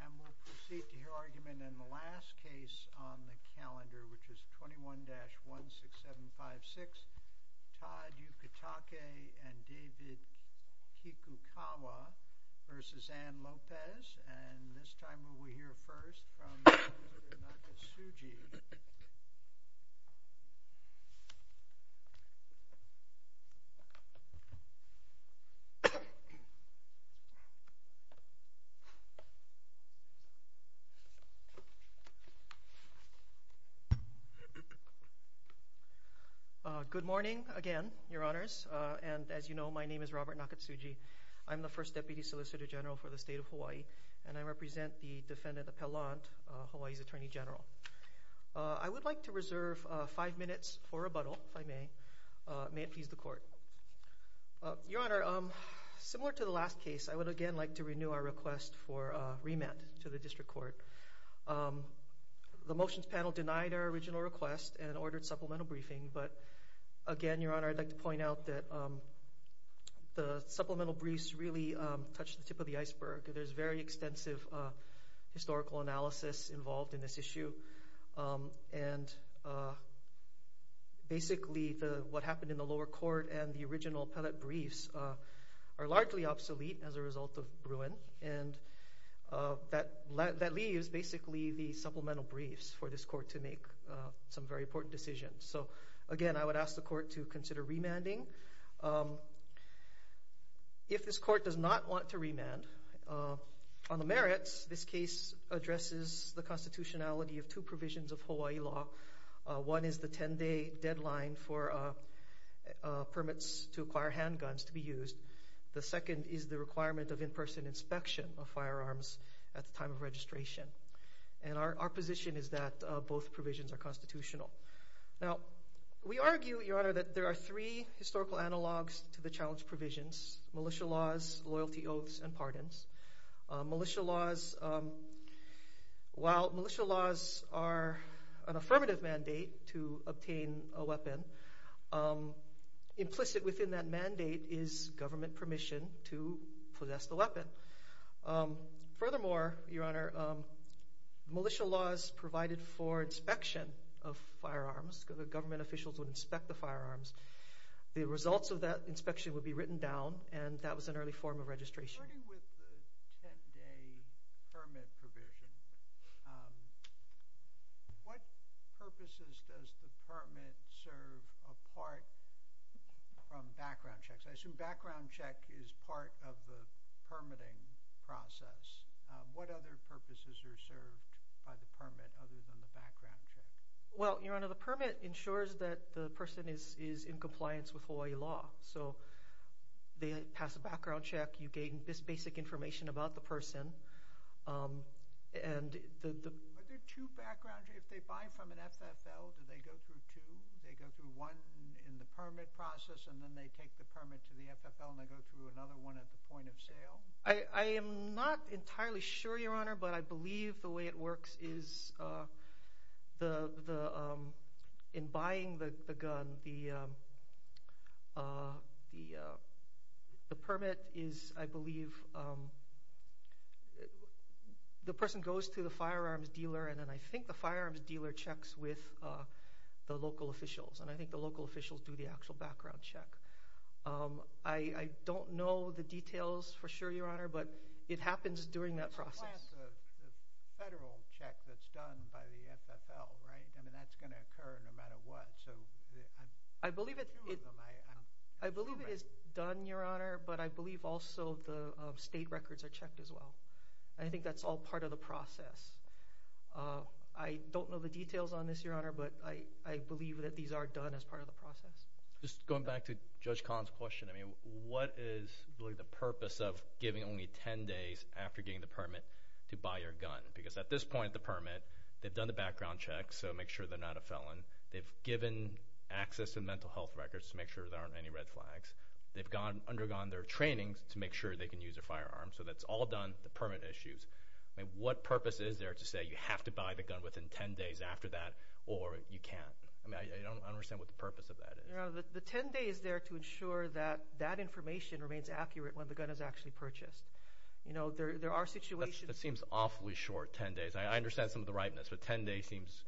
And we'll proceed to hear argument in the last case on the calendar, which is 21-16756, Todd Yukutake and David Kikukawa v. Anne Lopez. And this time we will hear first from Nakasuji. Good morning again, your honors. And as you know, my name is Robert Nakasuji. I'm the first deputy solicitor general for the state of Hawaii, and I represent the defendant of Pellant, Hawaii's attorney general. I would like to reserve five minutes for rebuttal, if I may. May it please the court. Your honor, similar to the last case, I would again like to renew our request for a remand to the district court. The motions panel denied our original request and ordered supplemental briefing. But again, your honor, I'd like to point out that the supplemental briefs really touched the tip of the iceberg. There's very extensive historical analysis involved in this issue. And basically the, what happened in the lower court and the original Pellant briefs are largely obsolete as a result of Bruin. And that leaves basically the supplemental briefs for this court to make some very important decisions. So again, I would ask the court to consider remanding. If this court does not want to remand on the merits, this case addresses the constitutionality of two provisions of Hawaii law. One is the 10 day deadline for permits to acquire handguns to be used. The second is the requirement of in-person inspection of firearms at the time of registration. And our position is that both provisions are constitutional. Now we argue, your honor, that there are three historical analogs to the challenge provisions, militia laws, loyalty oaths, and pardons. Militia laws, while militia laws are an affirmative mandate to obtain a weapon, implicit within that mandate is government permission to possess the weapon. Furthermore, your honor, militia laws provided for inspection of firearms. The government officials would inspect the firearms. The results of that inspection would be written down. And that was an early form of registration. Starting with the 10 day permit provision, what purposes does the permit serve apart from background checks? I assume background check is part of the permitting process. What other purposes are served by the permit other than the background check? Well, your honor, the permit ensures that the person is in compliance with Hawaii law. So they pass a background check. You gain this basic information about the person. Are there two background checks? If they buy from an FFL, do they go through two? They go through one in the permit process and then they take the permit to the FFL and they go through another one at the point of sale? I am not entirely sure, your honor, but I believe the way it works is in buying the gun, the permit is, I believe, the person goes to the firearms dealer and then I think the firearms dealer checks with the local officials. And I think the local officials do the actual background check. I don't know the details for sure, your honor, but it happens during that process. The federal check that's done by the FFL, right? I mean, that's going to occur no matter what. So I believe it is done, your honor, but I believe also the state records are checked as well. I think that's all part of the process. I don't know the details on this, your honor, but I believe that these are done as part of the process. Just going back to judge Collins question. I mean, what is really the purpose of giving only 10 days after getting the permit to buy your gun? Because at this point, the permit, they've done the background checks. So make sure they're not a felon. They've given access and mental health records to make sure there aren't any red flags. They've gone undergone their trainings to make sure they can use a firearm. So that's all done. The permit issues. I mean, what purpose is there to say you have to buy the gun within 10 days after that, or you can't, I mean, I don't understand what the purpose of that is. The 10 days there to ensure that that information remains accurate when the gun is actually purchased. You know, there, there are situations. That seems awfully short. 10 days. I understand some of the ripeness, but 10 days seems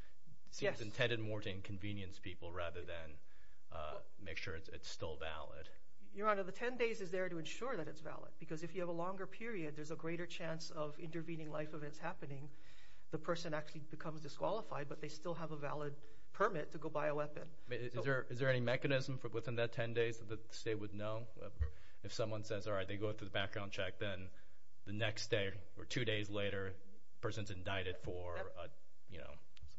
intended more to inconvenience people rather than make sure it's, it's still valid. Your honor, the 10 days is there to ensure that it's valid. Because if you have a longer period, there's a greater chance of intervening life events happening. The person actually becomes disqualified, but they still have a valid permit to go buy a weapon. Is there, is there any mechanism for within that 10 days that the state would know if someone says, all right, they go through the background check. Then the next day or two days later, person's indicted for, you know.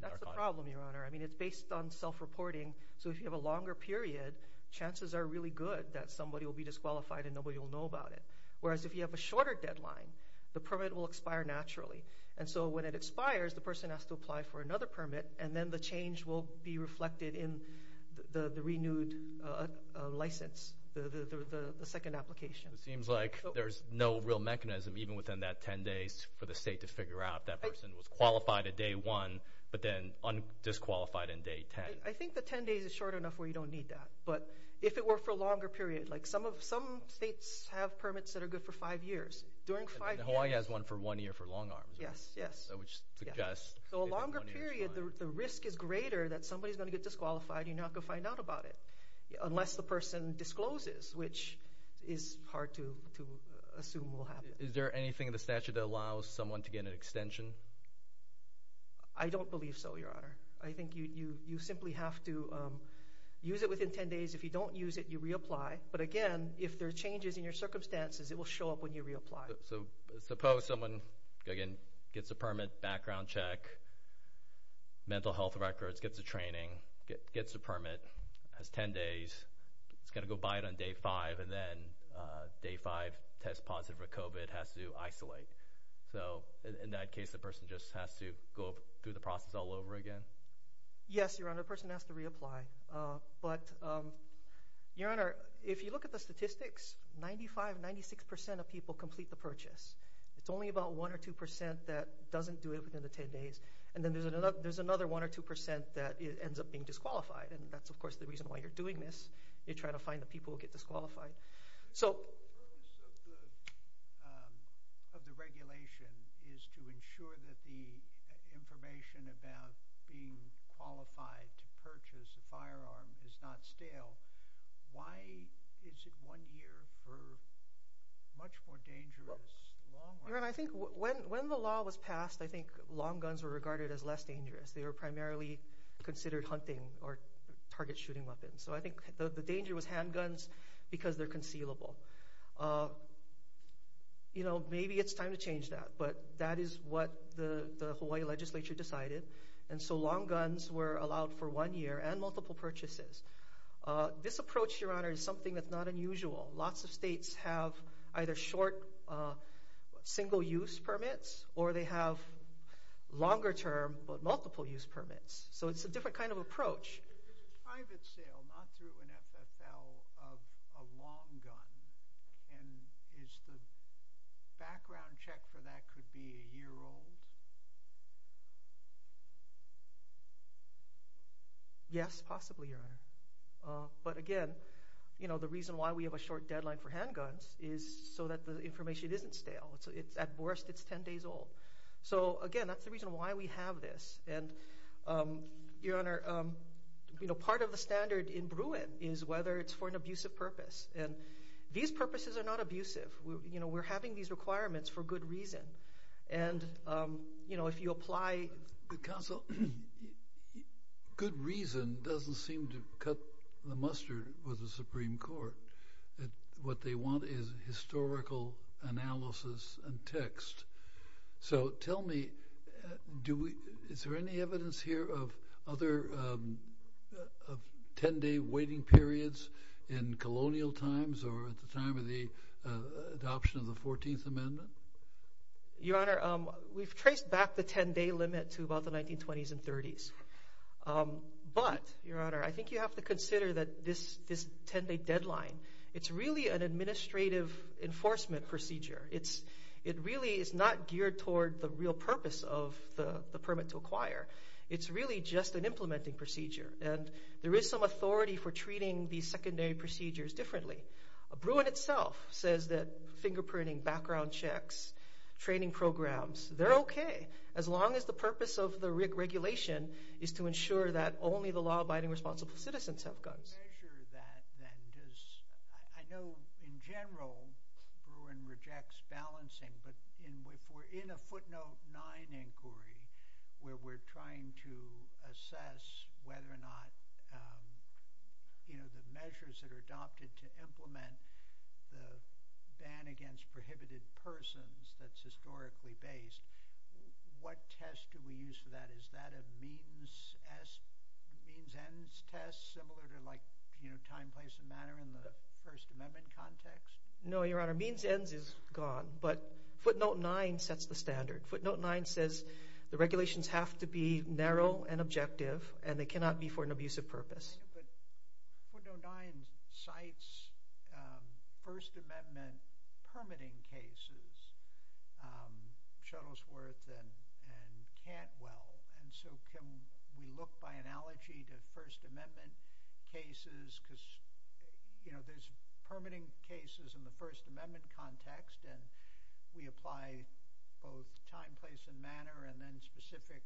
That's the problem, your honor. I mean, it's based on self-reporting. So if you have a longer period, chances are really good that somebody will be disqualified and nobody will know about it. Whereas if you have a shorter deadline, the permit will expire naturally. And so when it expires, the person has to apply for another permit and then the change will be reflected in the, the renewed license, the, the, the, the second application. It seems like there's no real mechanism, even within that 10 days for the state to figure out that person was qualified at day one, but then on disqualified in day 10. I think the 10 days is short enough where you don't need that. But if it were for a longer period, like some of, some states have permits that are good for five years. During five years. Hawaii has one for one year for long arms. Yes. Yes. So which suggests. So a longer period, the risk is greater that somebody is going to get disqualified. You're not going to find out about it unless the person discloses, which is hard to, to assume will happen. Is there anything in the statute that allows someone to get an extension? I don't believe so. Your honor. I think you, you, you simply have to use it within 10 days. If you don't use it, you reapply. But again, if there are changes in your circumstances, it will show up when you reapply. So suppose someone again, gets a permit background check, mental health records, gets a training, gets a permit has 10 days. It's going to go buy it on day five and then day five test positive for COVID has to isolate. So in that case, the person just has to go through the process all over again. Yes, your honor. The person has to reapply. But your honor, if you look at the statistics, 95, 96% of people complete the purchase. It's only about one or 2% that doesn't do it within the 10 days. And then there's another, there's another one or 2% that ends up being disqualified. And that's of course, the reason why you're doing this. You're trying to find the people who get disqualified. So of the regulation is to ensure that the information about being qualified to purchase a firearm is not stale. Why is it one year for much more dangerous? I think when, when the law was passed, I think long guns were regarded as less dangerous. They were primarily considered hunting or target shooting weapons. So I think the danger was handguns because they're concealable. You know, maybe it's time to change that, but that is what the Hawaii legislature decided. And so long guns were allowed for one year and multiple purchases. This approach, your honor, is something that's not unusual. Lots of states have either short single use permits or they have longer term, but multiple use permits. So it's a different kind of approach. Is it private sale, not through an FFL of a long gun? And is the background check for that could be a year old? Yes, possibly your honor. But again, you know, the reason why we have a short deadline for handguns is so that the information isn't stale. It's at worst, it's 10 days old. So again, that's the reason why we have this. And your honor, you know, part of the standard in Bruin is whether it's for an abusive purpose and these purposes are not abusive. We're, you know, we're having these requirements for good reason. And you know, if you apply... Counsel, good reason doesn't seem to cut the mustard with the Supreme Court. What they want is historical analysis and text. So tell me, do we, is there any evidence here of other 10 day waiting periods in colonial times or at the time of the adoption of the 14th amendment? Your honor, we've traced back the 10 day limit to about the 1920s and 30s. But your honor, I think you have to consider that this, this 10 day deadline, it's really an administrative enforcement procedure. It's, it really is not geared toward the real purpose of the permit to acquire. It's really just an implementing procedure. And there is some authority for treating these secondary procedures differently. Bruin itself says that fingerprinting, background checks, training programs, they're okay. As long as the purpose of the regulation is to ensure that only the law abiding responsible citizens have guns. How do you measure that then? I know in general, Bruin rejects balancing, but in, if we're in a footnote nine inquiry where we're trying to assess whether or not the measures that are adopted to implement the ban against prohibited persons that's historically based, what test do we use for that? Is that a means S means ends test similar to like, you know, time, place and manner in the first amendment context? No, your honor means ends is gone, but footnote nine sets the standard. Footnote nine says the regulations have to be narrow and objective and they cannot be for an abusive purpose. What don't die in sites. Um, first amendment permitting cases, um, shuttle's worth and, and can't well. And so can we look by analogy to first amendment cases? Cause you know, there's permitting cases in the first amendment context and we apply both time, place and manner and then specific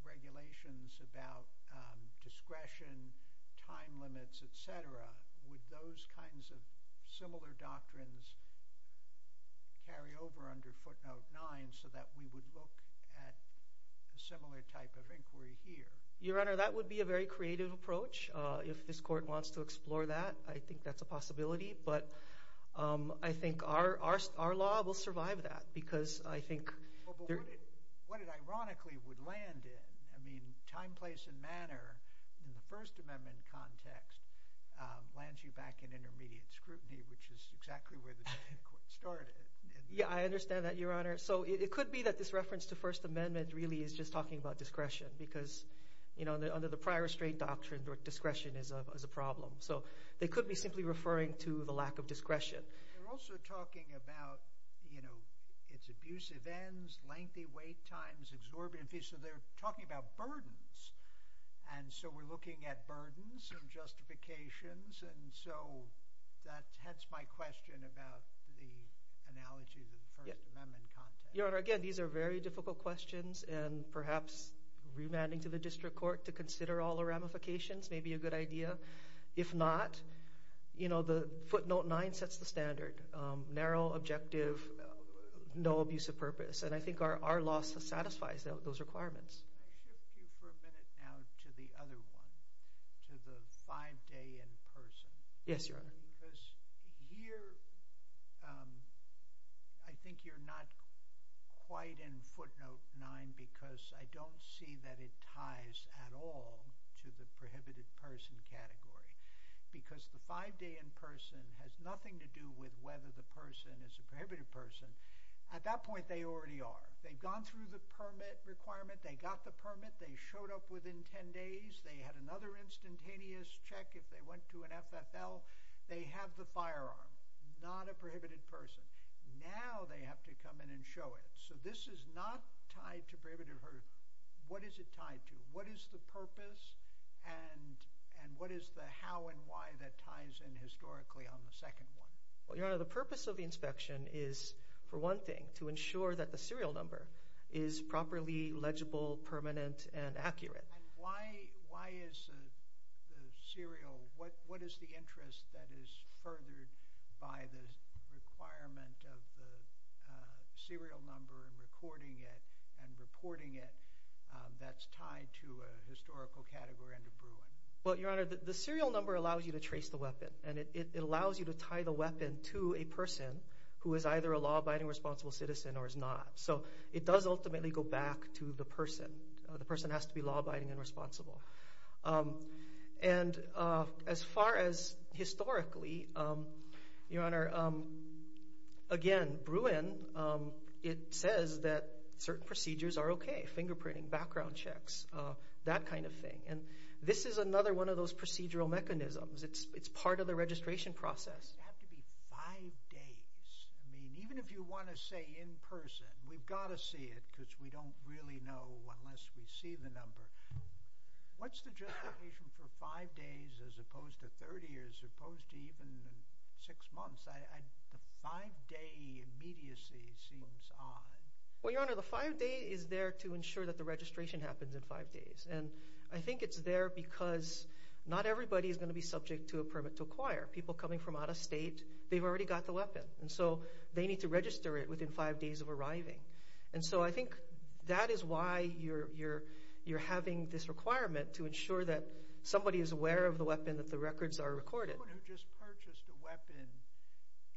regulations about, um, discretion, time limits, et cetera. Would those kinds of similar doctrines carry over under footnote nine so that we would look at a similar type of inquiry here? Your honor, that would be a very creative approach. Uh, if this court wants to explore that, I think that's a possibility. But, um, I think our, our, our law will survive that because I think what it ironically would land in, I mean, time place and manner in the first amendment context, um, lands you back in intermediate scrutiny, which is exactly where the court started. Yeah, I understand that your honor. So it could be that this reference to first amendment really is just talking about discretion because you know, under the prior restraint doctrine, discretion is a problem. So they could be simply referring to the lack of discretion. We're also talking about, you know, it's abusive ends, lengthy wait times, exorbitant fees. So they're talking about burdens. And so we're looking at burdens and justifications. And so that's my question about the analogy of the first amendment context. Your honor, again, these are very difficult questions and perhaps remanding to the district court to consider all the ramifications may be a good idea. If not, you know, the footnote nine sets the standard, um, narrow, objective, no abuse of purpose. And I think our, our law satisfies those requirements. Can I shift you for a minute now to the other one, to the five day in person? Yes, your honor. Because here, um, I think you're not quite in footnote nine because I don't see that it ties at all to the prohibited person category because the five day in person has nothing to do with whether the person is a prohibited person. At that point, they already are. They've gone through the permit requirement. They got the permit. They showed up within 10 days. They had another instantaneous check. If they went to an FFL, they have the firearm, not a prohibited person. Now they have to come in and show it. So this is not tied to prohibitive hurt. What is it tied to? What is the purpose and, and what is the how and why that ties in historically on the second one? Well, your honor, the purpose of the inspection is for one thing to ensure that the serial number is properly legible, permanent and accurate. Why, why is the serial, what, what is the interest that is furthered by the requirement of the serial number and recording it and reporting it? Um, that's tied to a historical category under Bruin. Well, your honor, the serial number allows you to trace the weapon and it allows you to tie the weapon to a person who is either a law abiding responsible citizen or is not. So it does ultimately go back to the person. The person has to be law abiding and responsible. Um, and, uh, as far as historically, um, your honor, um, again, Bruin, um, it says that certain procedures are okay. Fingerprinting, background checks, uh, that kind of thing. And this is another one of those procedural mechanisms. It's, it's part of the registration process. It has to be five days. I mean, even if you want to say in person, we've got to see it because we don't really know unless we see the number. What's the justification for five days as opposed to 30 years, as opposed to even six months? I, the five day immediacy seems odd. Well, your honor, the five day is there to ensure that the registration happens in five days. And I think it's there because not everybody is going to be subject to a permit to acquire people coming from out of state. They've already got the weapon. And so they need to register it within five days of arriving. And so I think that is why you're, you're, you're having this requirement to ensure that somebody is aware of the weapon, that the records are recorded. Who just purchased a weapon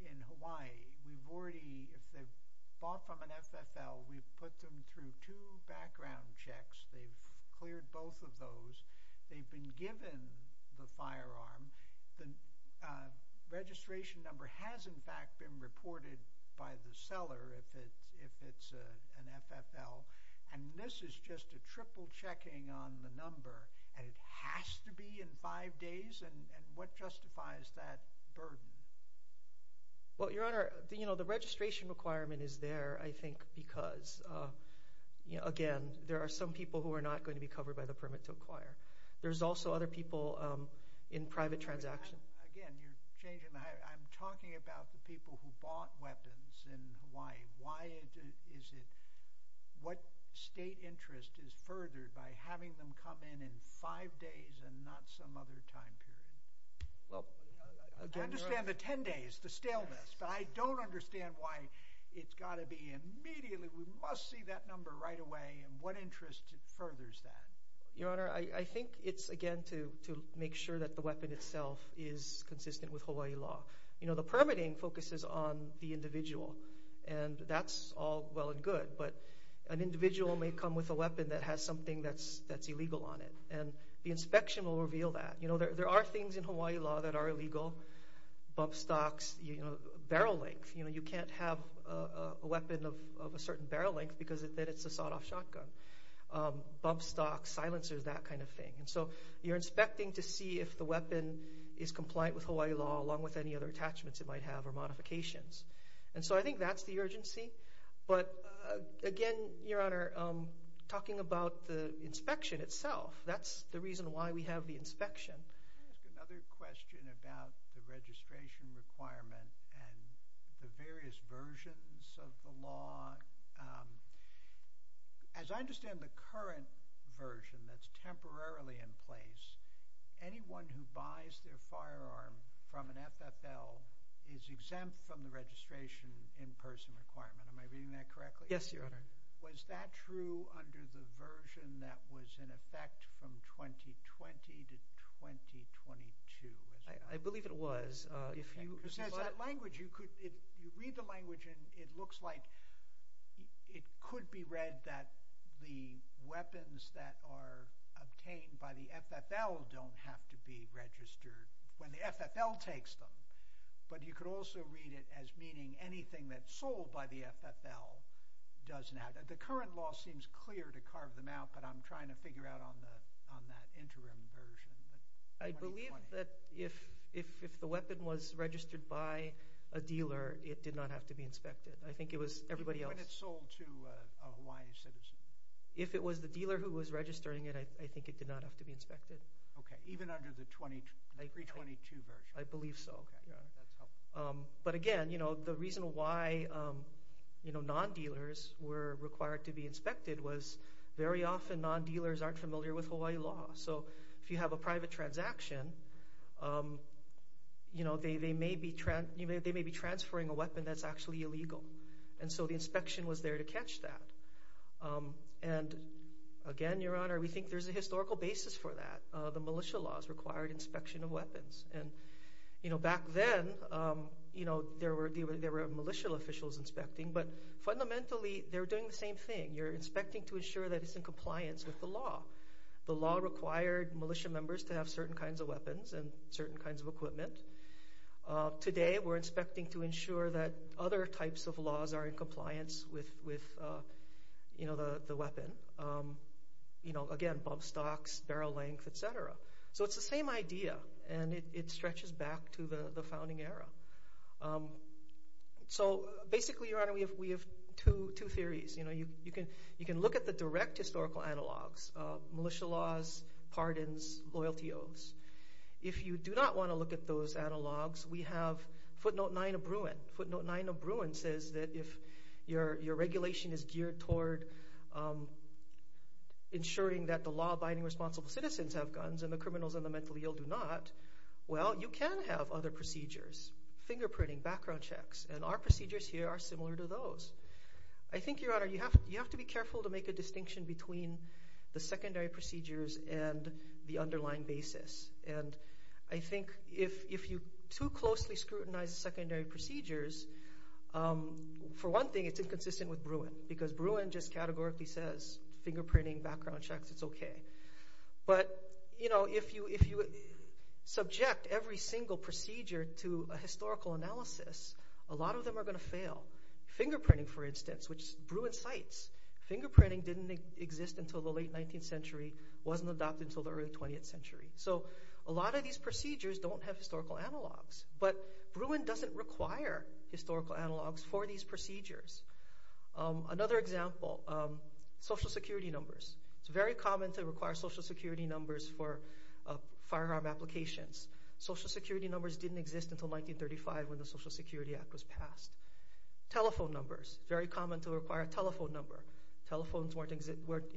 in Hawaii. We've already, if they've bought from an FFL, we've put them through two background checks. They've cleared both of those. They've been given the firearm. The registration number has in fact been reported by the seller. If it's, if it's a, an FFL. And this is just a triple checking on the number and it has to be in five days. And what justifies that burden? Well, Your Honor, the, you know, the registration requirement is there, I think because, you know, again, there are some people who are not going to be covered by the permit to acquire. There's also other people in private transactions. Again, you're changing. I'm talking about the people who bought weapons in Hawaii. Why is it, what state interest is furthered by having them come in, in five days and not some other time period? Well, I understand the 10 days, the staleness, but I don't understand why it's got to be immediately. We must see that number right away. And what interest furthers that? Your Honor, I think it's again, to make sure that the weapon itself is consistent with Hawaii law. You know, the permitting focuses on the individual and that's all well and good, but an individual may come with a weapon that has something that's, there are things in Hawaii law that are illegal. Bump stocks, you know, barrel length, you know, you can't have a weapon of a certain barrel length because then it's a sawed off shotgun. Bump stocks, silencers, that kind of thing. And so you're inspecting to see if the weapon is compliant with Hawaii law, along with any other attachments it might have or modifications. And so I think that's the urgency. But again, Your Honor, talking about the inspection itself, that's the reason why we have the inspection. Another question about the registration requirement and the various versions of the law. As I understand the current version that's temporarily in place, anyone who buys their firearm from an FFL is exempt from the registration in person requirement. Am I reading that correctly? Yes, Your Honor. Was that true under the version that was in effect from 2020 to 2022? I believe it was. You read the language and it looks like it could be read that the weapons that are obtained by the FFL don't have to be registered when the FFL takes them. But you could also read it as meaning anything that's sold by the FFL doesn't have to be inspected. The current law seems clear to carve them out, but I'm trying to figure out on that interim version. I believe that if the weapon was registered by a dealer, it did not have to be inspected. I think it was everybody else. When it's sold to a Hawaii citizen. If it was the dealer who was registering it, I think it did not have to be inspected. Okay. Even under the 2022 version? I believe so. But again, you know, the reason why, you know, non-dealers were required to be inspected was very often non-dealers aren't familiar with Hawaii law. So if you have a private transaction, you know, they may be transferring a weapon that's actually illegal. And so the inspection was there to catch that. And again, Your Honor, we think there's a historical basis for that. The militia laws required inspection of weapons. And, you know, back then, you know, there were, there were militia officials inspecting, but fundamentally they're doing the same thing. You're inspecting to ensure that it's in compliance with the law. The law required militia members to have certain kinds of weapons and certain kinds of equipment. Today we're inspecting to ensure that other types of laws are in compliance with, with you know, the, the weapon, you know, again, Bob stocks, barrel length, et cetera. So it's the same idea and it stretches back to the founding era. So basically, Your Honor, we have, we have two, two theories. You know, you, you can, you can look at the direct historical analogs of militia laws, pardons, loyalty oaths. If you do not want to look at those analogs, we have footnote nine of Bruin footnote nine of Bruin says that if your, your regulation is geared toward ensuring that the law abiding responsible citizens have guns and the criminals and the mentally ill do not, well, you can have other procedures, fingerprinting, background checks, and our procedures here are similar to those. I think Your Honor, you have to be careful to make a distinction between the secondary procedures and the underlying basis. And I think if you too closely scrutinize the secondary procedures for one thing, it's inconsistent with Bruin because Bruin just categorically says fingerprinting, background checks, it's okay. But you know, if you, if you subject every single procedure to a historical analysis, a lot of them are going to fail. Fingerprinting, for instance, which Bruin cites fingerprinting didn't exist until the late 19th century, wasn't adopted until the early 20th century. So a lot of these procedures don't have historical analogs, but Bruin doesn't require historical analogs for these procedures. Another example, social security numbers. It's very common to require social security numbers for firearm applications. Social security numbers didn't exist until 1935 when the Social Security Act was passed. Telephone numbers, very common to require a telephone number. Telephones weren't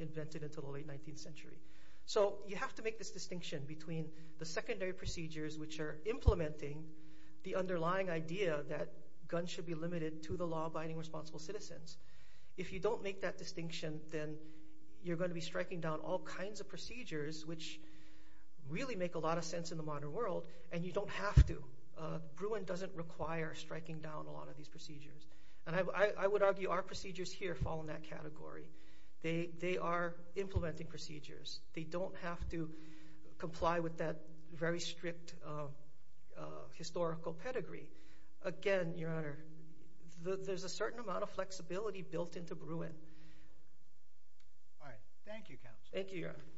invented until the late 19th century. So you have to make this distinction between the secondary procedures, which are implementing the underlying idea that guns should be limited to the law-abiding responsible citizens. If you don't make that distinction, then you're going to be striking down all kinds of procedures, which really make a lot of sense in the modern world. And you don't have to. Bruin doesn't require striking down a lot of these procedures. And I would argue our procedures here fall in that category. They are implementing procedures. They don't have to comply with that very strict historical pedigree. Again, Your Honor, there's a certain amount of flexibility built into Bruin. All right. Thank you, Counsel. Thank you, Your Honor.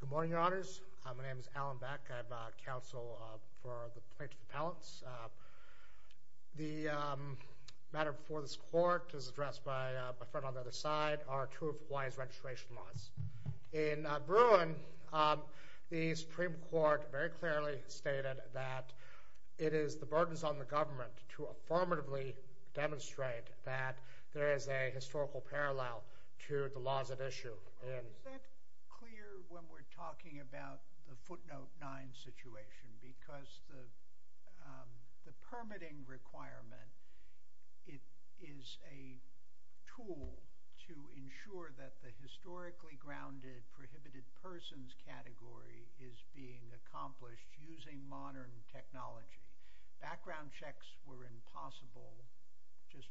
Good morning, Your Honors. My name is Alan Beck. I'm Counsel for the Plaintiff Appellants. The matter before this Court is addressed by my friend on the other side, are two of Hawaii's registration laws. In Bruin, the Supreme Court very clearly stated that it is the burdens on the government to affirmatively demonstrate that there is a historical parallel to the laws at issue. Is that clear when we're talking about the footnote nine situation? Because the permitting requirement, it is a tool to ensure that the historically grounded prohibited persons category is being accomplished using modern technology. Background checks were impossible just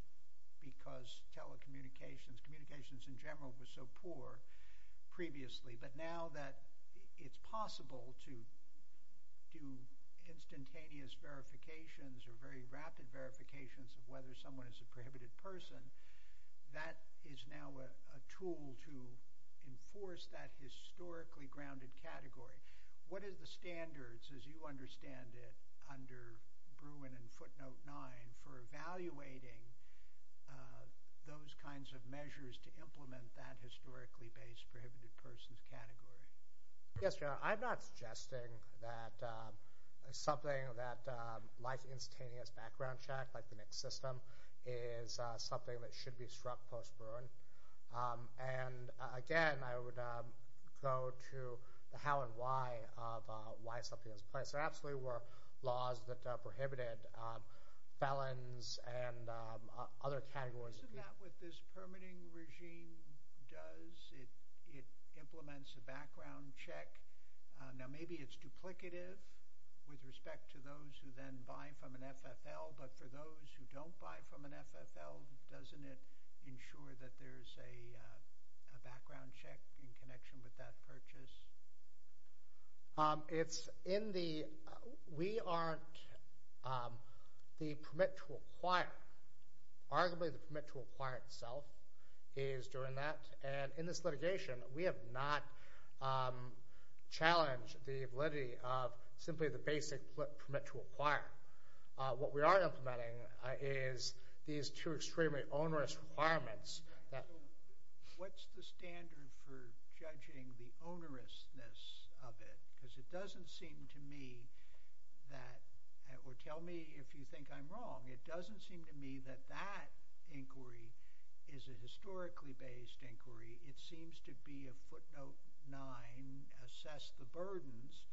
because telecommunications, communications in general was so poor previously. But now that it's possible to do instantaneous verifications or very rapid verifications of whether someone is a prohibited person, that is now a tool to enforce that historically grounded category. What is the standards as you understand it under Bruin and footnote nine for evaluating those kinds of measures to implement that historically based prohibited persons category? Yes, Your Honor. I'm not suggesting that something that life instantaneous background check like the NICS system is something that should be struck post Bruin. And again, I would go to the how and why of why something was placed. There absolutely were laws that prohibited felons and other categories. Isn't that what this permitting regime does? It implements a background check. Now maybe it's duplicative with respect to those who then buy from an FFL, but for those who don't buy from an FFL, doesn't it ensure that there's a background check in connection with that purchase? It's in the, we aren't the permit to acquire. Arguably the permit to acquire itself is during that. And in this litigation, we have not challenged the validity of simply the basic permit to acquire. What we are implementing is these two extremely onerous requirements. What's the standard for judging the onerousness of it? Because it doesn't seem to me that, or tell me if you think I'm wrong, it doesn't seem to me that that inquiry is a historically based inquiry. It seems to be a footnote nine, assess the burdens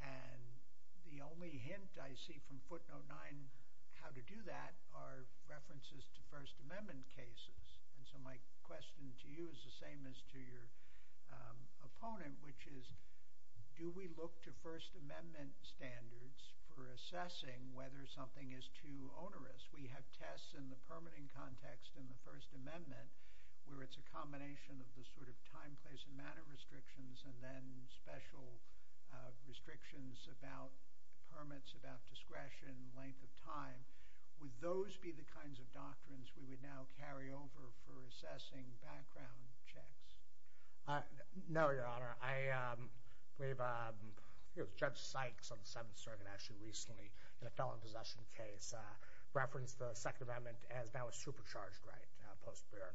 and the only hint I see from footnote nine, how to do that are references to first amendment cases. And so my question to you is the same as to your opponent, which is, do we look to first amendment standards for assessing whether something is too onerous? We have tests in the permitting context in the first amendment where it's a combination of the sort of time, place and manner restrictions, and then special restrictions about permits, about discretion, length of time. Would those be the kinds of doctrines we would now carry over for assessing background checks? No, your honor. I, um, we've, um, it was judge Sykes on the seventh circuit actually recently in a felon possession case, uh, reference the second amendment as now a supercharged right, uh, post beer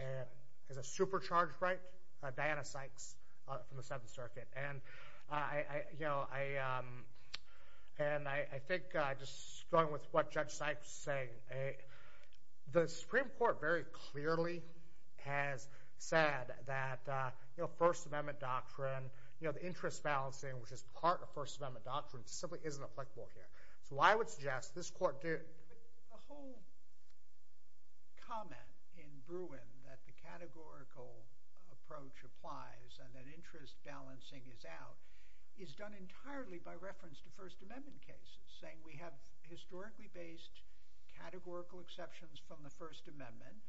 and as a supercharged right, uh, Diana Sykes from the seventh circuit. And I, I, you know, I, um, and I, I think, uh, just going with what judge Sykes say, uh, the Supreme court very clearly has said that, uh, you know, first amendment doctrine, you know, the interest balancing, which is part of first amendment doctrine simply isn't applicable here. So I would suggest this court did. The whole comment in Bruin that the categorical approach applies and an interest balancing is out is done entirely by reference to first amendment cases saying we have historically based categorical exceptions from the first amendment.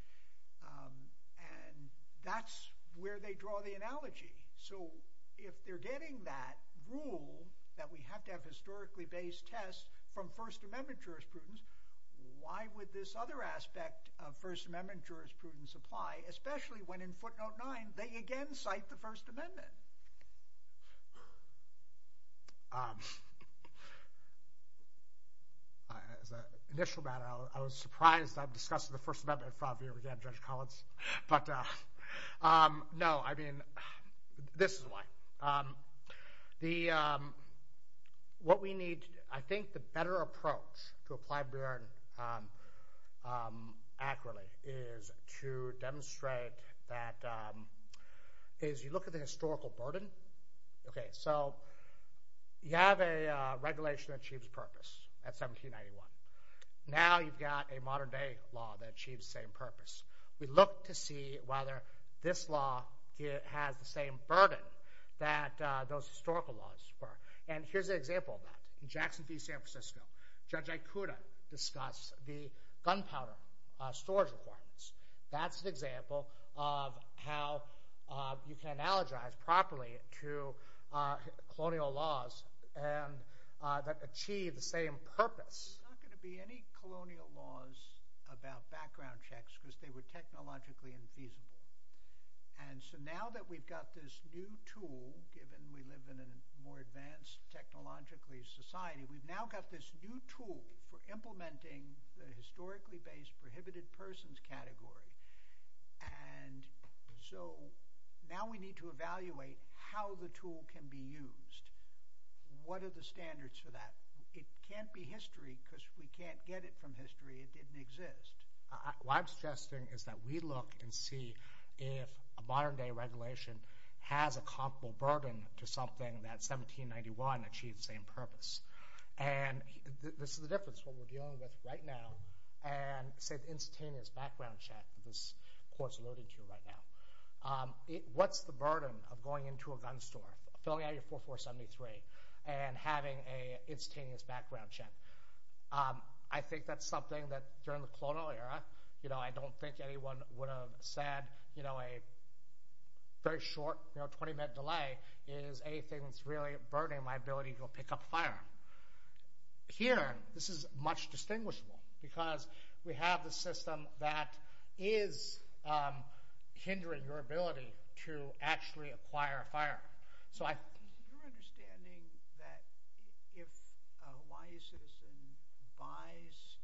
Um, and that's where they draw the analogy. So if they're getting that rule that we have to have historically based tests, from first amendment jurisprudence, why would this other aspect of first amendment jurisprudence supply, especially when in footnote nine, they again cite the first amendment. Um, as a initial matter, I was surprised I've discussed the first amendment five year again, judge Collins. But, uh, um, no, I mean, this is why, um, the, um, what we need, I think the better approach to apply Bruin, um, um, accurately is to demonstrate that, um, is you look at the historical burden. Okay. So you have a regulation that achieves purpose at 1791. Now you've got a modern day law that achieves the same purpose. We look to see whether this law has the same burden that, uh, those historical laws were. And here's an example of that. In Jackson V San Francisco, Judge Ikuda discuss the gunpowder storage requirements. That's an example of how, uh, you can analogize properly to, uh, colonial laws and, uh, that achieve the same purpose. There's not going to be any colonial laws about background checks because they were technologically infeasible. And so now that we've got this new tool, given we live in a more advanced technologically society, we've now got this new tool for implementing the historically based prohibited persons category. And so now we need to evaluate how the tool can be used. What are the standards for that? It can't be history because we can't get it from history. It didn't exist. What I'm suggesting is that we look and see if a modern day regulation has a comparable burden to something that 1791 achieved the same purpose. And this is the difference, what we're dealing with right now and say the instantaneous background check this court's alluding to right now. Um, what's the burden of going into a gun store, filling out your 4473 and having a instantaneous background check? Um, I think that's something that during the colonial era, you know, I don't think anyone would have said, you know, a very short, you know, 20 minute delay is anything that's really burdening my ability to go pick up a firearm. Here, this is much distinguishable because we have the system that is, so I, you're understanding that if a Hawaii citizen buys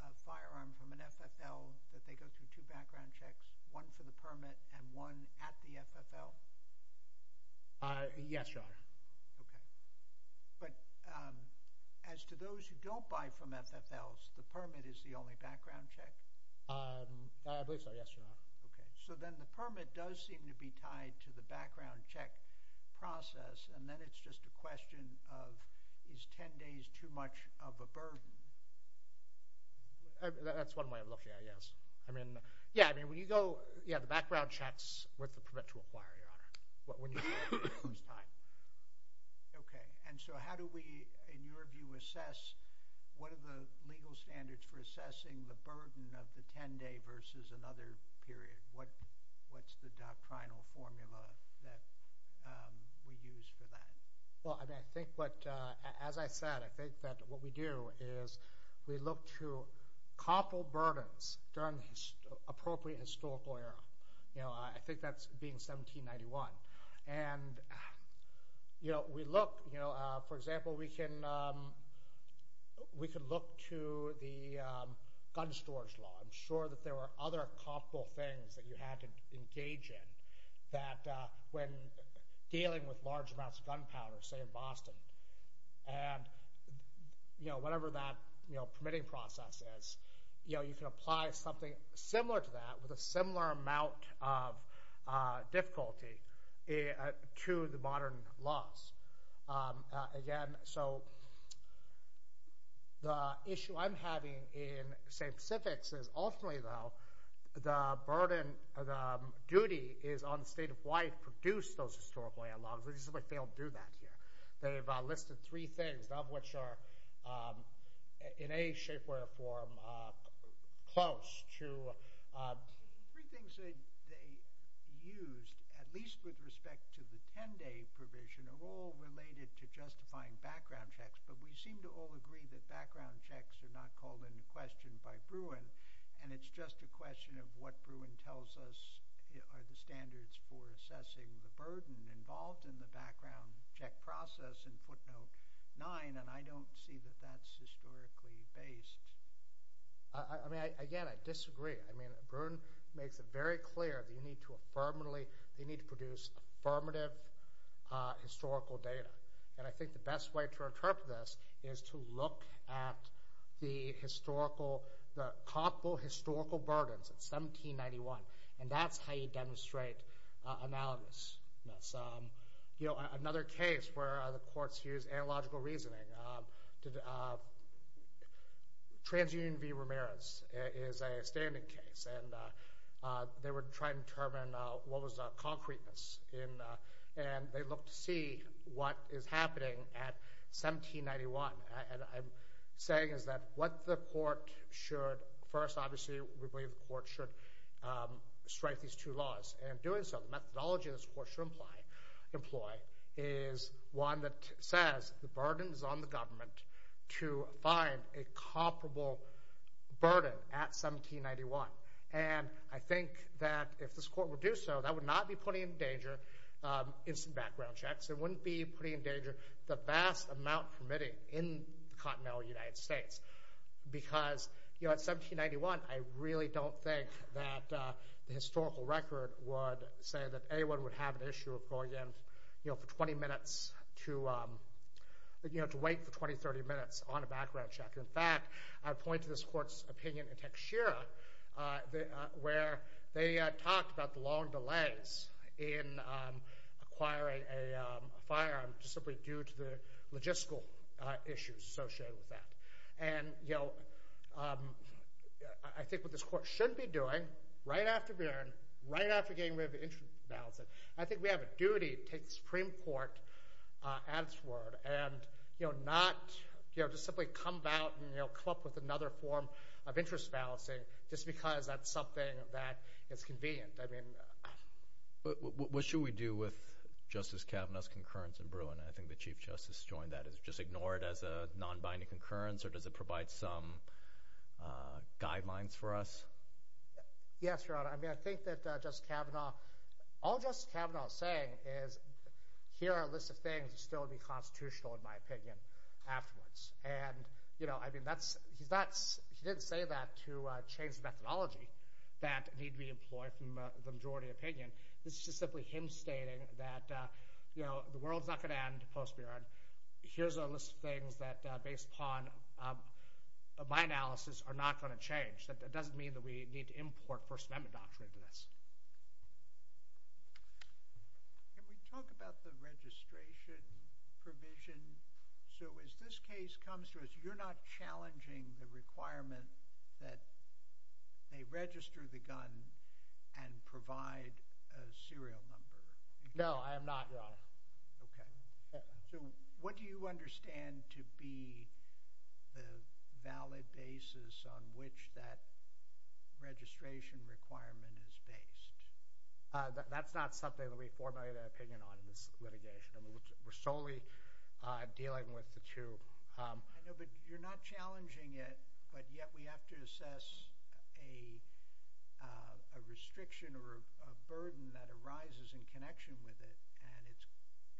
a firearm from an FFL that they go through two background checks, one for the permit and one at the FFL. Uh, yes, Your Honor. Okay. But, um, as to those who don't buy from FFLs, the permit is the only background check. Um, I believe so. Yes, Your Honor. Okay. So then the permit does seem to be tied to the background check process and then it's just a question of, is 10 days too much of a burden? That's one way of looking at it. Yes. I mean, yeah. I mean, when you go, yeah, the background checks with the permit to acquire, Your Honor. Okay. And so how do we, in your view, assess, what are the legal standards for assessing the burden of the 10 day versus another period? What, what's the doctrinal formula that, um, we use for that? Well, I mean, I think what, uh, as I said, I think that what we do is we look to couple burdens during the appropriate historical era. You know, I think that's being 1791 and, you know, we look, you know, uh, for example, we can, um, we could look to the, um, gun storage law. I'm sure that there were other comparable things that you had to engage in that, uh, when dealing with large amounts of gunpowder, say in Boston and, you know, whatever that, you know, permitting process is, you know, you can apply something similar to that with a similar amount of, uh, difficulty, uh, to the modern laws. Um, uh, again, so the issue I'm having in, say, in the Pacifics is ultimately though the burden of the duty is on the state of why it produced those historical analogs, which is why they don't do that here. They've listed three things, none of which are, um, in a shape, way or form, uh, close to, uh, three things that they used, at least with respect to the 10 day provision of all related to justifying background checks. But we seem to all agree that background checks are not called into question by Bruin. And it's just a question of what Bruin tells us are the standards for assessing the burden involved in the background check process in footnote nine. And I don't see that that's historically based. I mean, I, again, I disagree. I mean, Bruin makes it very clear that you need to affirmatively, they need to produce affirmative, uh, historical data. And I think the best way to interpret this is to look at the historical, the comparable historical burdens at 1791. And that's how you demonstrate analogousness. Um, you know, another case where the courts use analogical reasoning, um, to, uh, TransUnion v. Ramirez is a standing case and, uh, uh, they were trying to determine, uh, what was the concreteness in, uh, and they look to see what is happening at 1791. And I'm saying is that what the court should first, obviously we believe the court should, um, strike these two laws. And in doing so, the methodology this court should imply, employ is one that says the burden is on the government to find a comparable burden at 1791. And I think that if this court would do so, that would not be putting in danger, um, instant background checks. It wouldn't be putting in danger the vast amount permitting in the continental United States because, you know, at 1791, I really don't think that, uh, the historical record would say that anyone would have an issue of going in, you know, for 20 minutes to, um, you know, to wait for 20, 30 minutes on a background check. In fact, I point to this court's opinion in Tekshira, uh, where they talked about the long delays in, um, acquiring a firearm just simply due to the logistical issues associated with that. And, you know, um, I think what this court shouldn't be doing right after Buren, right after getting rid of the interest balancing, I think we have a duty to take the Supreme Court, uh, at its word and, you know, not, you know, just simply come back and come up with another form of interest balancing just because that's something that is convenient. I mean, what should we do with Justice Kavanaugh's concurrence in Buren? I think the Chief Justice joined that as just ignore it as a non-binding concurrence or does it provide some, uh, guidelines for us? Yes, Your Honor. I mean, I think that, uh, Justice Kavanaugh all Justice Kavanaugh is saying is here are a list of things that still would be constitutional in my opinion afterwards. And, you know, I mean, that's, he's, that's, he didn't say that to, uh, change the methodology that need to be employed from the majority opinion. This is just simply him stating that, uh, you know, the world's not going to end post Buren. Here's a list of things that are based upon, um, my analysis are not going to change that. That doesn't mean that we need to import first amendment doctrine to this. Can we talk about the registration provision? So as this case comes to us, you're not challenging the requirement that they register the gun and provide a serial number. No, I am not. Okay. So what do you understand to be the valid basis on which that registration requirement is based? Uh, that's not something that we formulate an opinion on in this litigation. I mean, we're solely, uh, dealing with the two. Um, I know, but you're not challenging it, but yet we have to assess a, uh, a restriction or a burden that arises in connection with it. And it's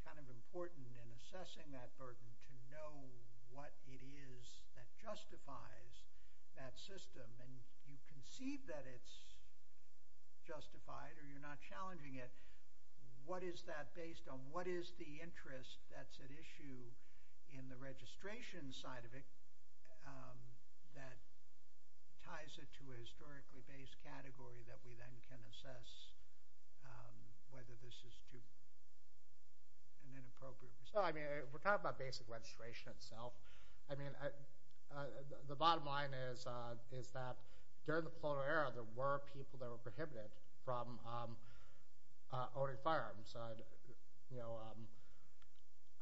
kind of important in assessing that burden to know what it is that justifies that system. And you can see that it's justified or you're not challenging it. What is that based on? And what is the interest that's at issue in the registration side of it? Um, that ties it to a historically based category that we then can assess, um, whether this is too and inappropriate. So, I mean, we're talking about basic registration itself. I mean, uh, uh, the bottom line is, uh, is that during the colonial era, there were people that were prohibited from, um, uh, owning firearms. Um, you know, um,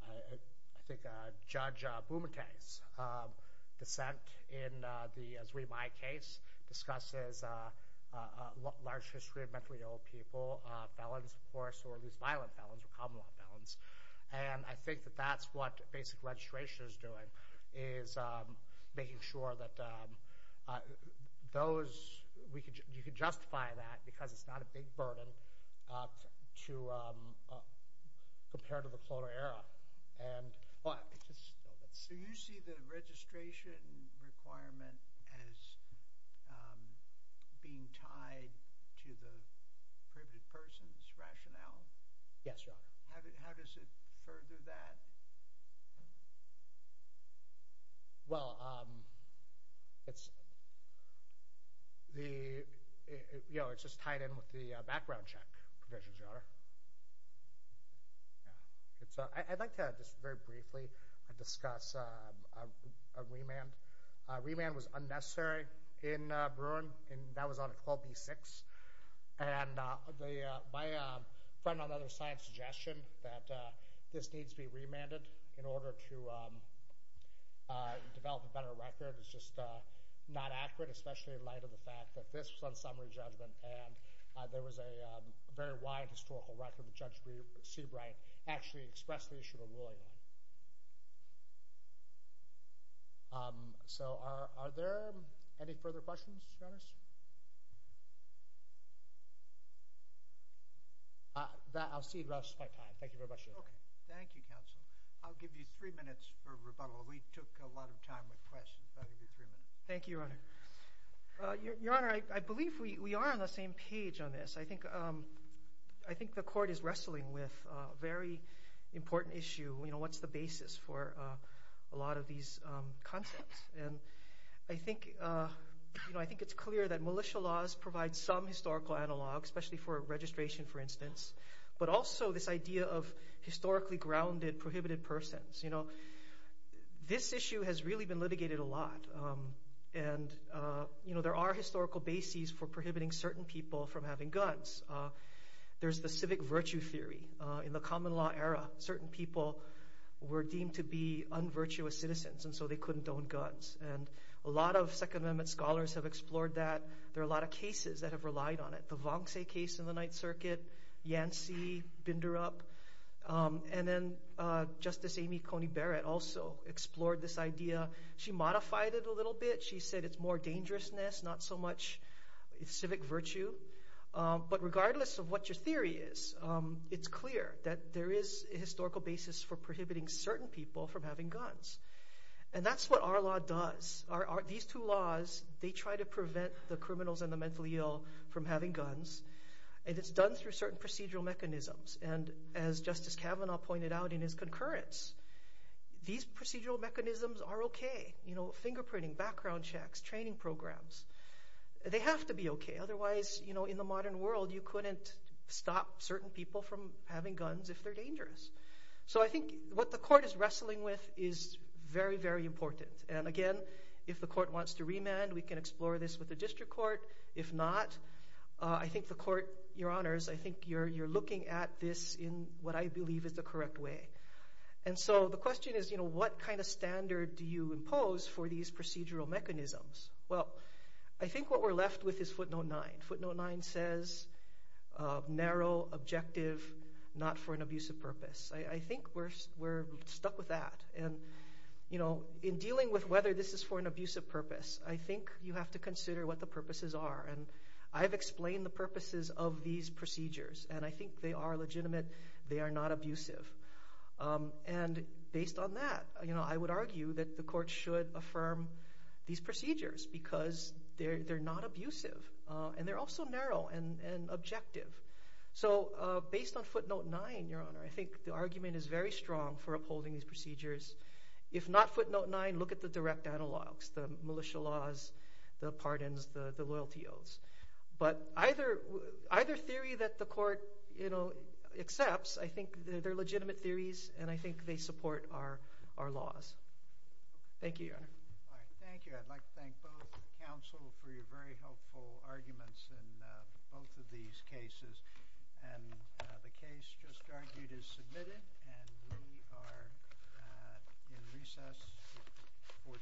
I, I, I think, uh, Judge Bumate's, um, dissent in, uh, the, as we, my case discusses, uh, uh, uh, large history of mentally ill people, uh, felons, of course, or at least violent felons or common law felons. And I think that that's what basic registration is doing is, um, making sure that, um, uh, those we could, you could justify that because it's not a big burden, uh, to, um, uh, compared to the colonial era. And, but it's just, do you see the registration requirement as, um, being tied to the privileged person's rationale? Yes, Your Honor. How did, how does it further that? Well, um, it's the, you know, it's just tied in with the background check provisions, Your Honor. Yeah. It's, uh, I, I'd like to just very briefly, uh, discuss, uh, a remand. A remand was unnecessary in, uh, Bruin and that was on 12B6. And, uh, the, uh, my, um, friend on the other side suggestion that, uh, this needs to be remanded in order to, um, uh, develop a better record. It's just, uh, not accurate, especially in light of the fact that this was on summary judgment and, uh, there was a, um, a very wide historical record with Judge Seabright actually expressed the issue of a ruling on it. Um, so are, are there any further questions, Your Honor? Uh, that, I'll cede the rest of my time. Thank you very much, Your Honor. Okay. Thank you, counsel. I'll give you three minutes for rebuttal. We took a lot of time with questions. I'll give you three minutes. Thank you, Your Honor. Uh, Your Honor, I, I believe we, we are on the same page on this. I think, um, I think the court is wrestling with a very important issue. You know, what's the basis for, uh, a lot of these, um, concepts. And I think, uh, you know, I think it's clear that militia laws provide some historical analog, especially for registration, for instance, but also this idea of historically grounded prohibited persons. You know, this issue has really been litigated a lot. Um, and, uh, you know, there are historical bases for prohibiting certain people from having guns. Uh, there's the civic virtue theory, uh, in the common law era, certain people were deemed to be unvirtuous citizens. And so they couldn't own guns. And a lot of second amendment scholars have explored that. There are a lot of cases that have relied on it. The Vonce case in the Ninth Circuit, Yancey, Binderup, um, and then, uh, Justice Amy Coney Barrett also explored this idea. She modified it a little bit. She said it's more dangerousness, not so much civic virtue. Um, but regardless of what your theory is, um, it's clear that there is a historical basis for prohibiting certain people from having guns. And that's what our law does. Our, our, these two laws, they try to prevent the criminals and the mentally ill from having guns. And it's done through certain procedural mechanisms. And as Justice Kavanaugh pointed out in his concurrence, these procedural mechanisms are okay. You know, fingerprinting, background checks, training programs, they have to be okay. Otherwise, you know, in the modern world, you couldn't stop certain people from having guns if they're dangerous. So I think what the court is wrestling with is very, very important. And again, if the court wants to remand, we can explore this with the district court. If not, uh, I think the court, your honors, I think you're, you're looking at this in what I believe is the correct way. And so the question is, you know, what kind of standard do you impose for these procedural mechanisms? Well, I think what we're left with is footnote nine. Footnote nine says, uh, narrow objective, not for an abusive purpose. I think we're, we're stuck with that. And, you know, in dealing with whether this is for an abusive purpose, I think you have to consider what the purposes are. And I've explained the purposes of these procedures and I think they are legitimate. They are not abusive. Um, and based on that, you know, I would argue that the court should affirm these procedures because they're, they're not abusive. Uh, and they're also narrow and, and objective. So, uh, based on footnote nine, your honor, I think the argument is very strong for upholding these procedures. If not footnote nine, look at the direct analogs, the militia laws, the pardons, the loyalty oaths, but either, either theory that the court, you know, accepts, I think they're legitimate theories and I think they support our, our laws. Thank you. All right. Thank you. I'd like to thank both counsel for your very helpful arguments in both of these cases and the case just argued is submitted and we are in recess for today.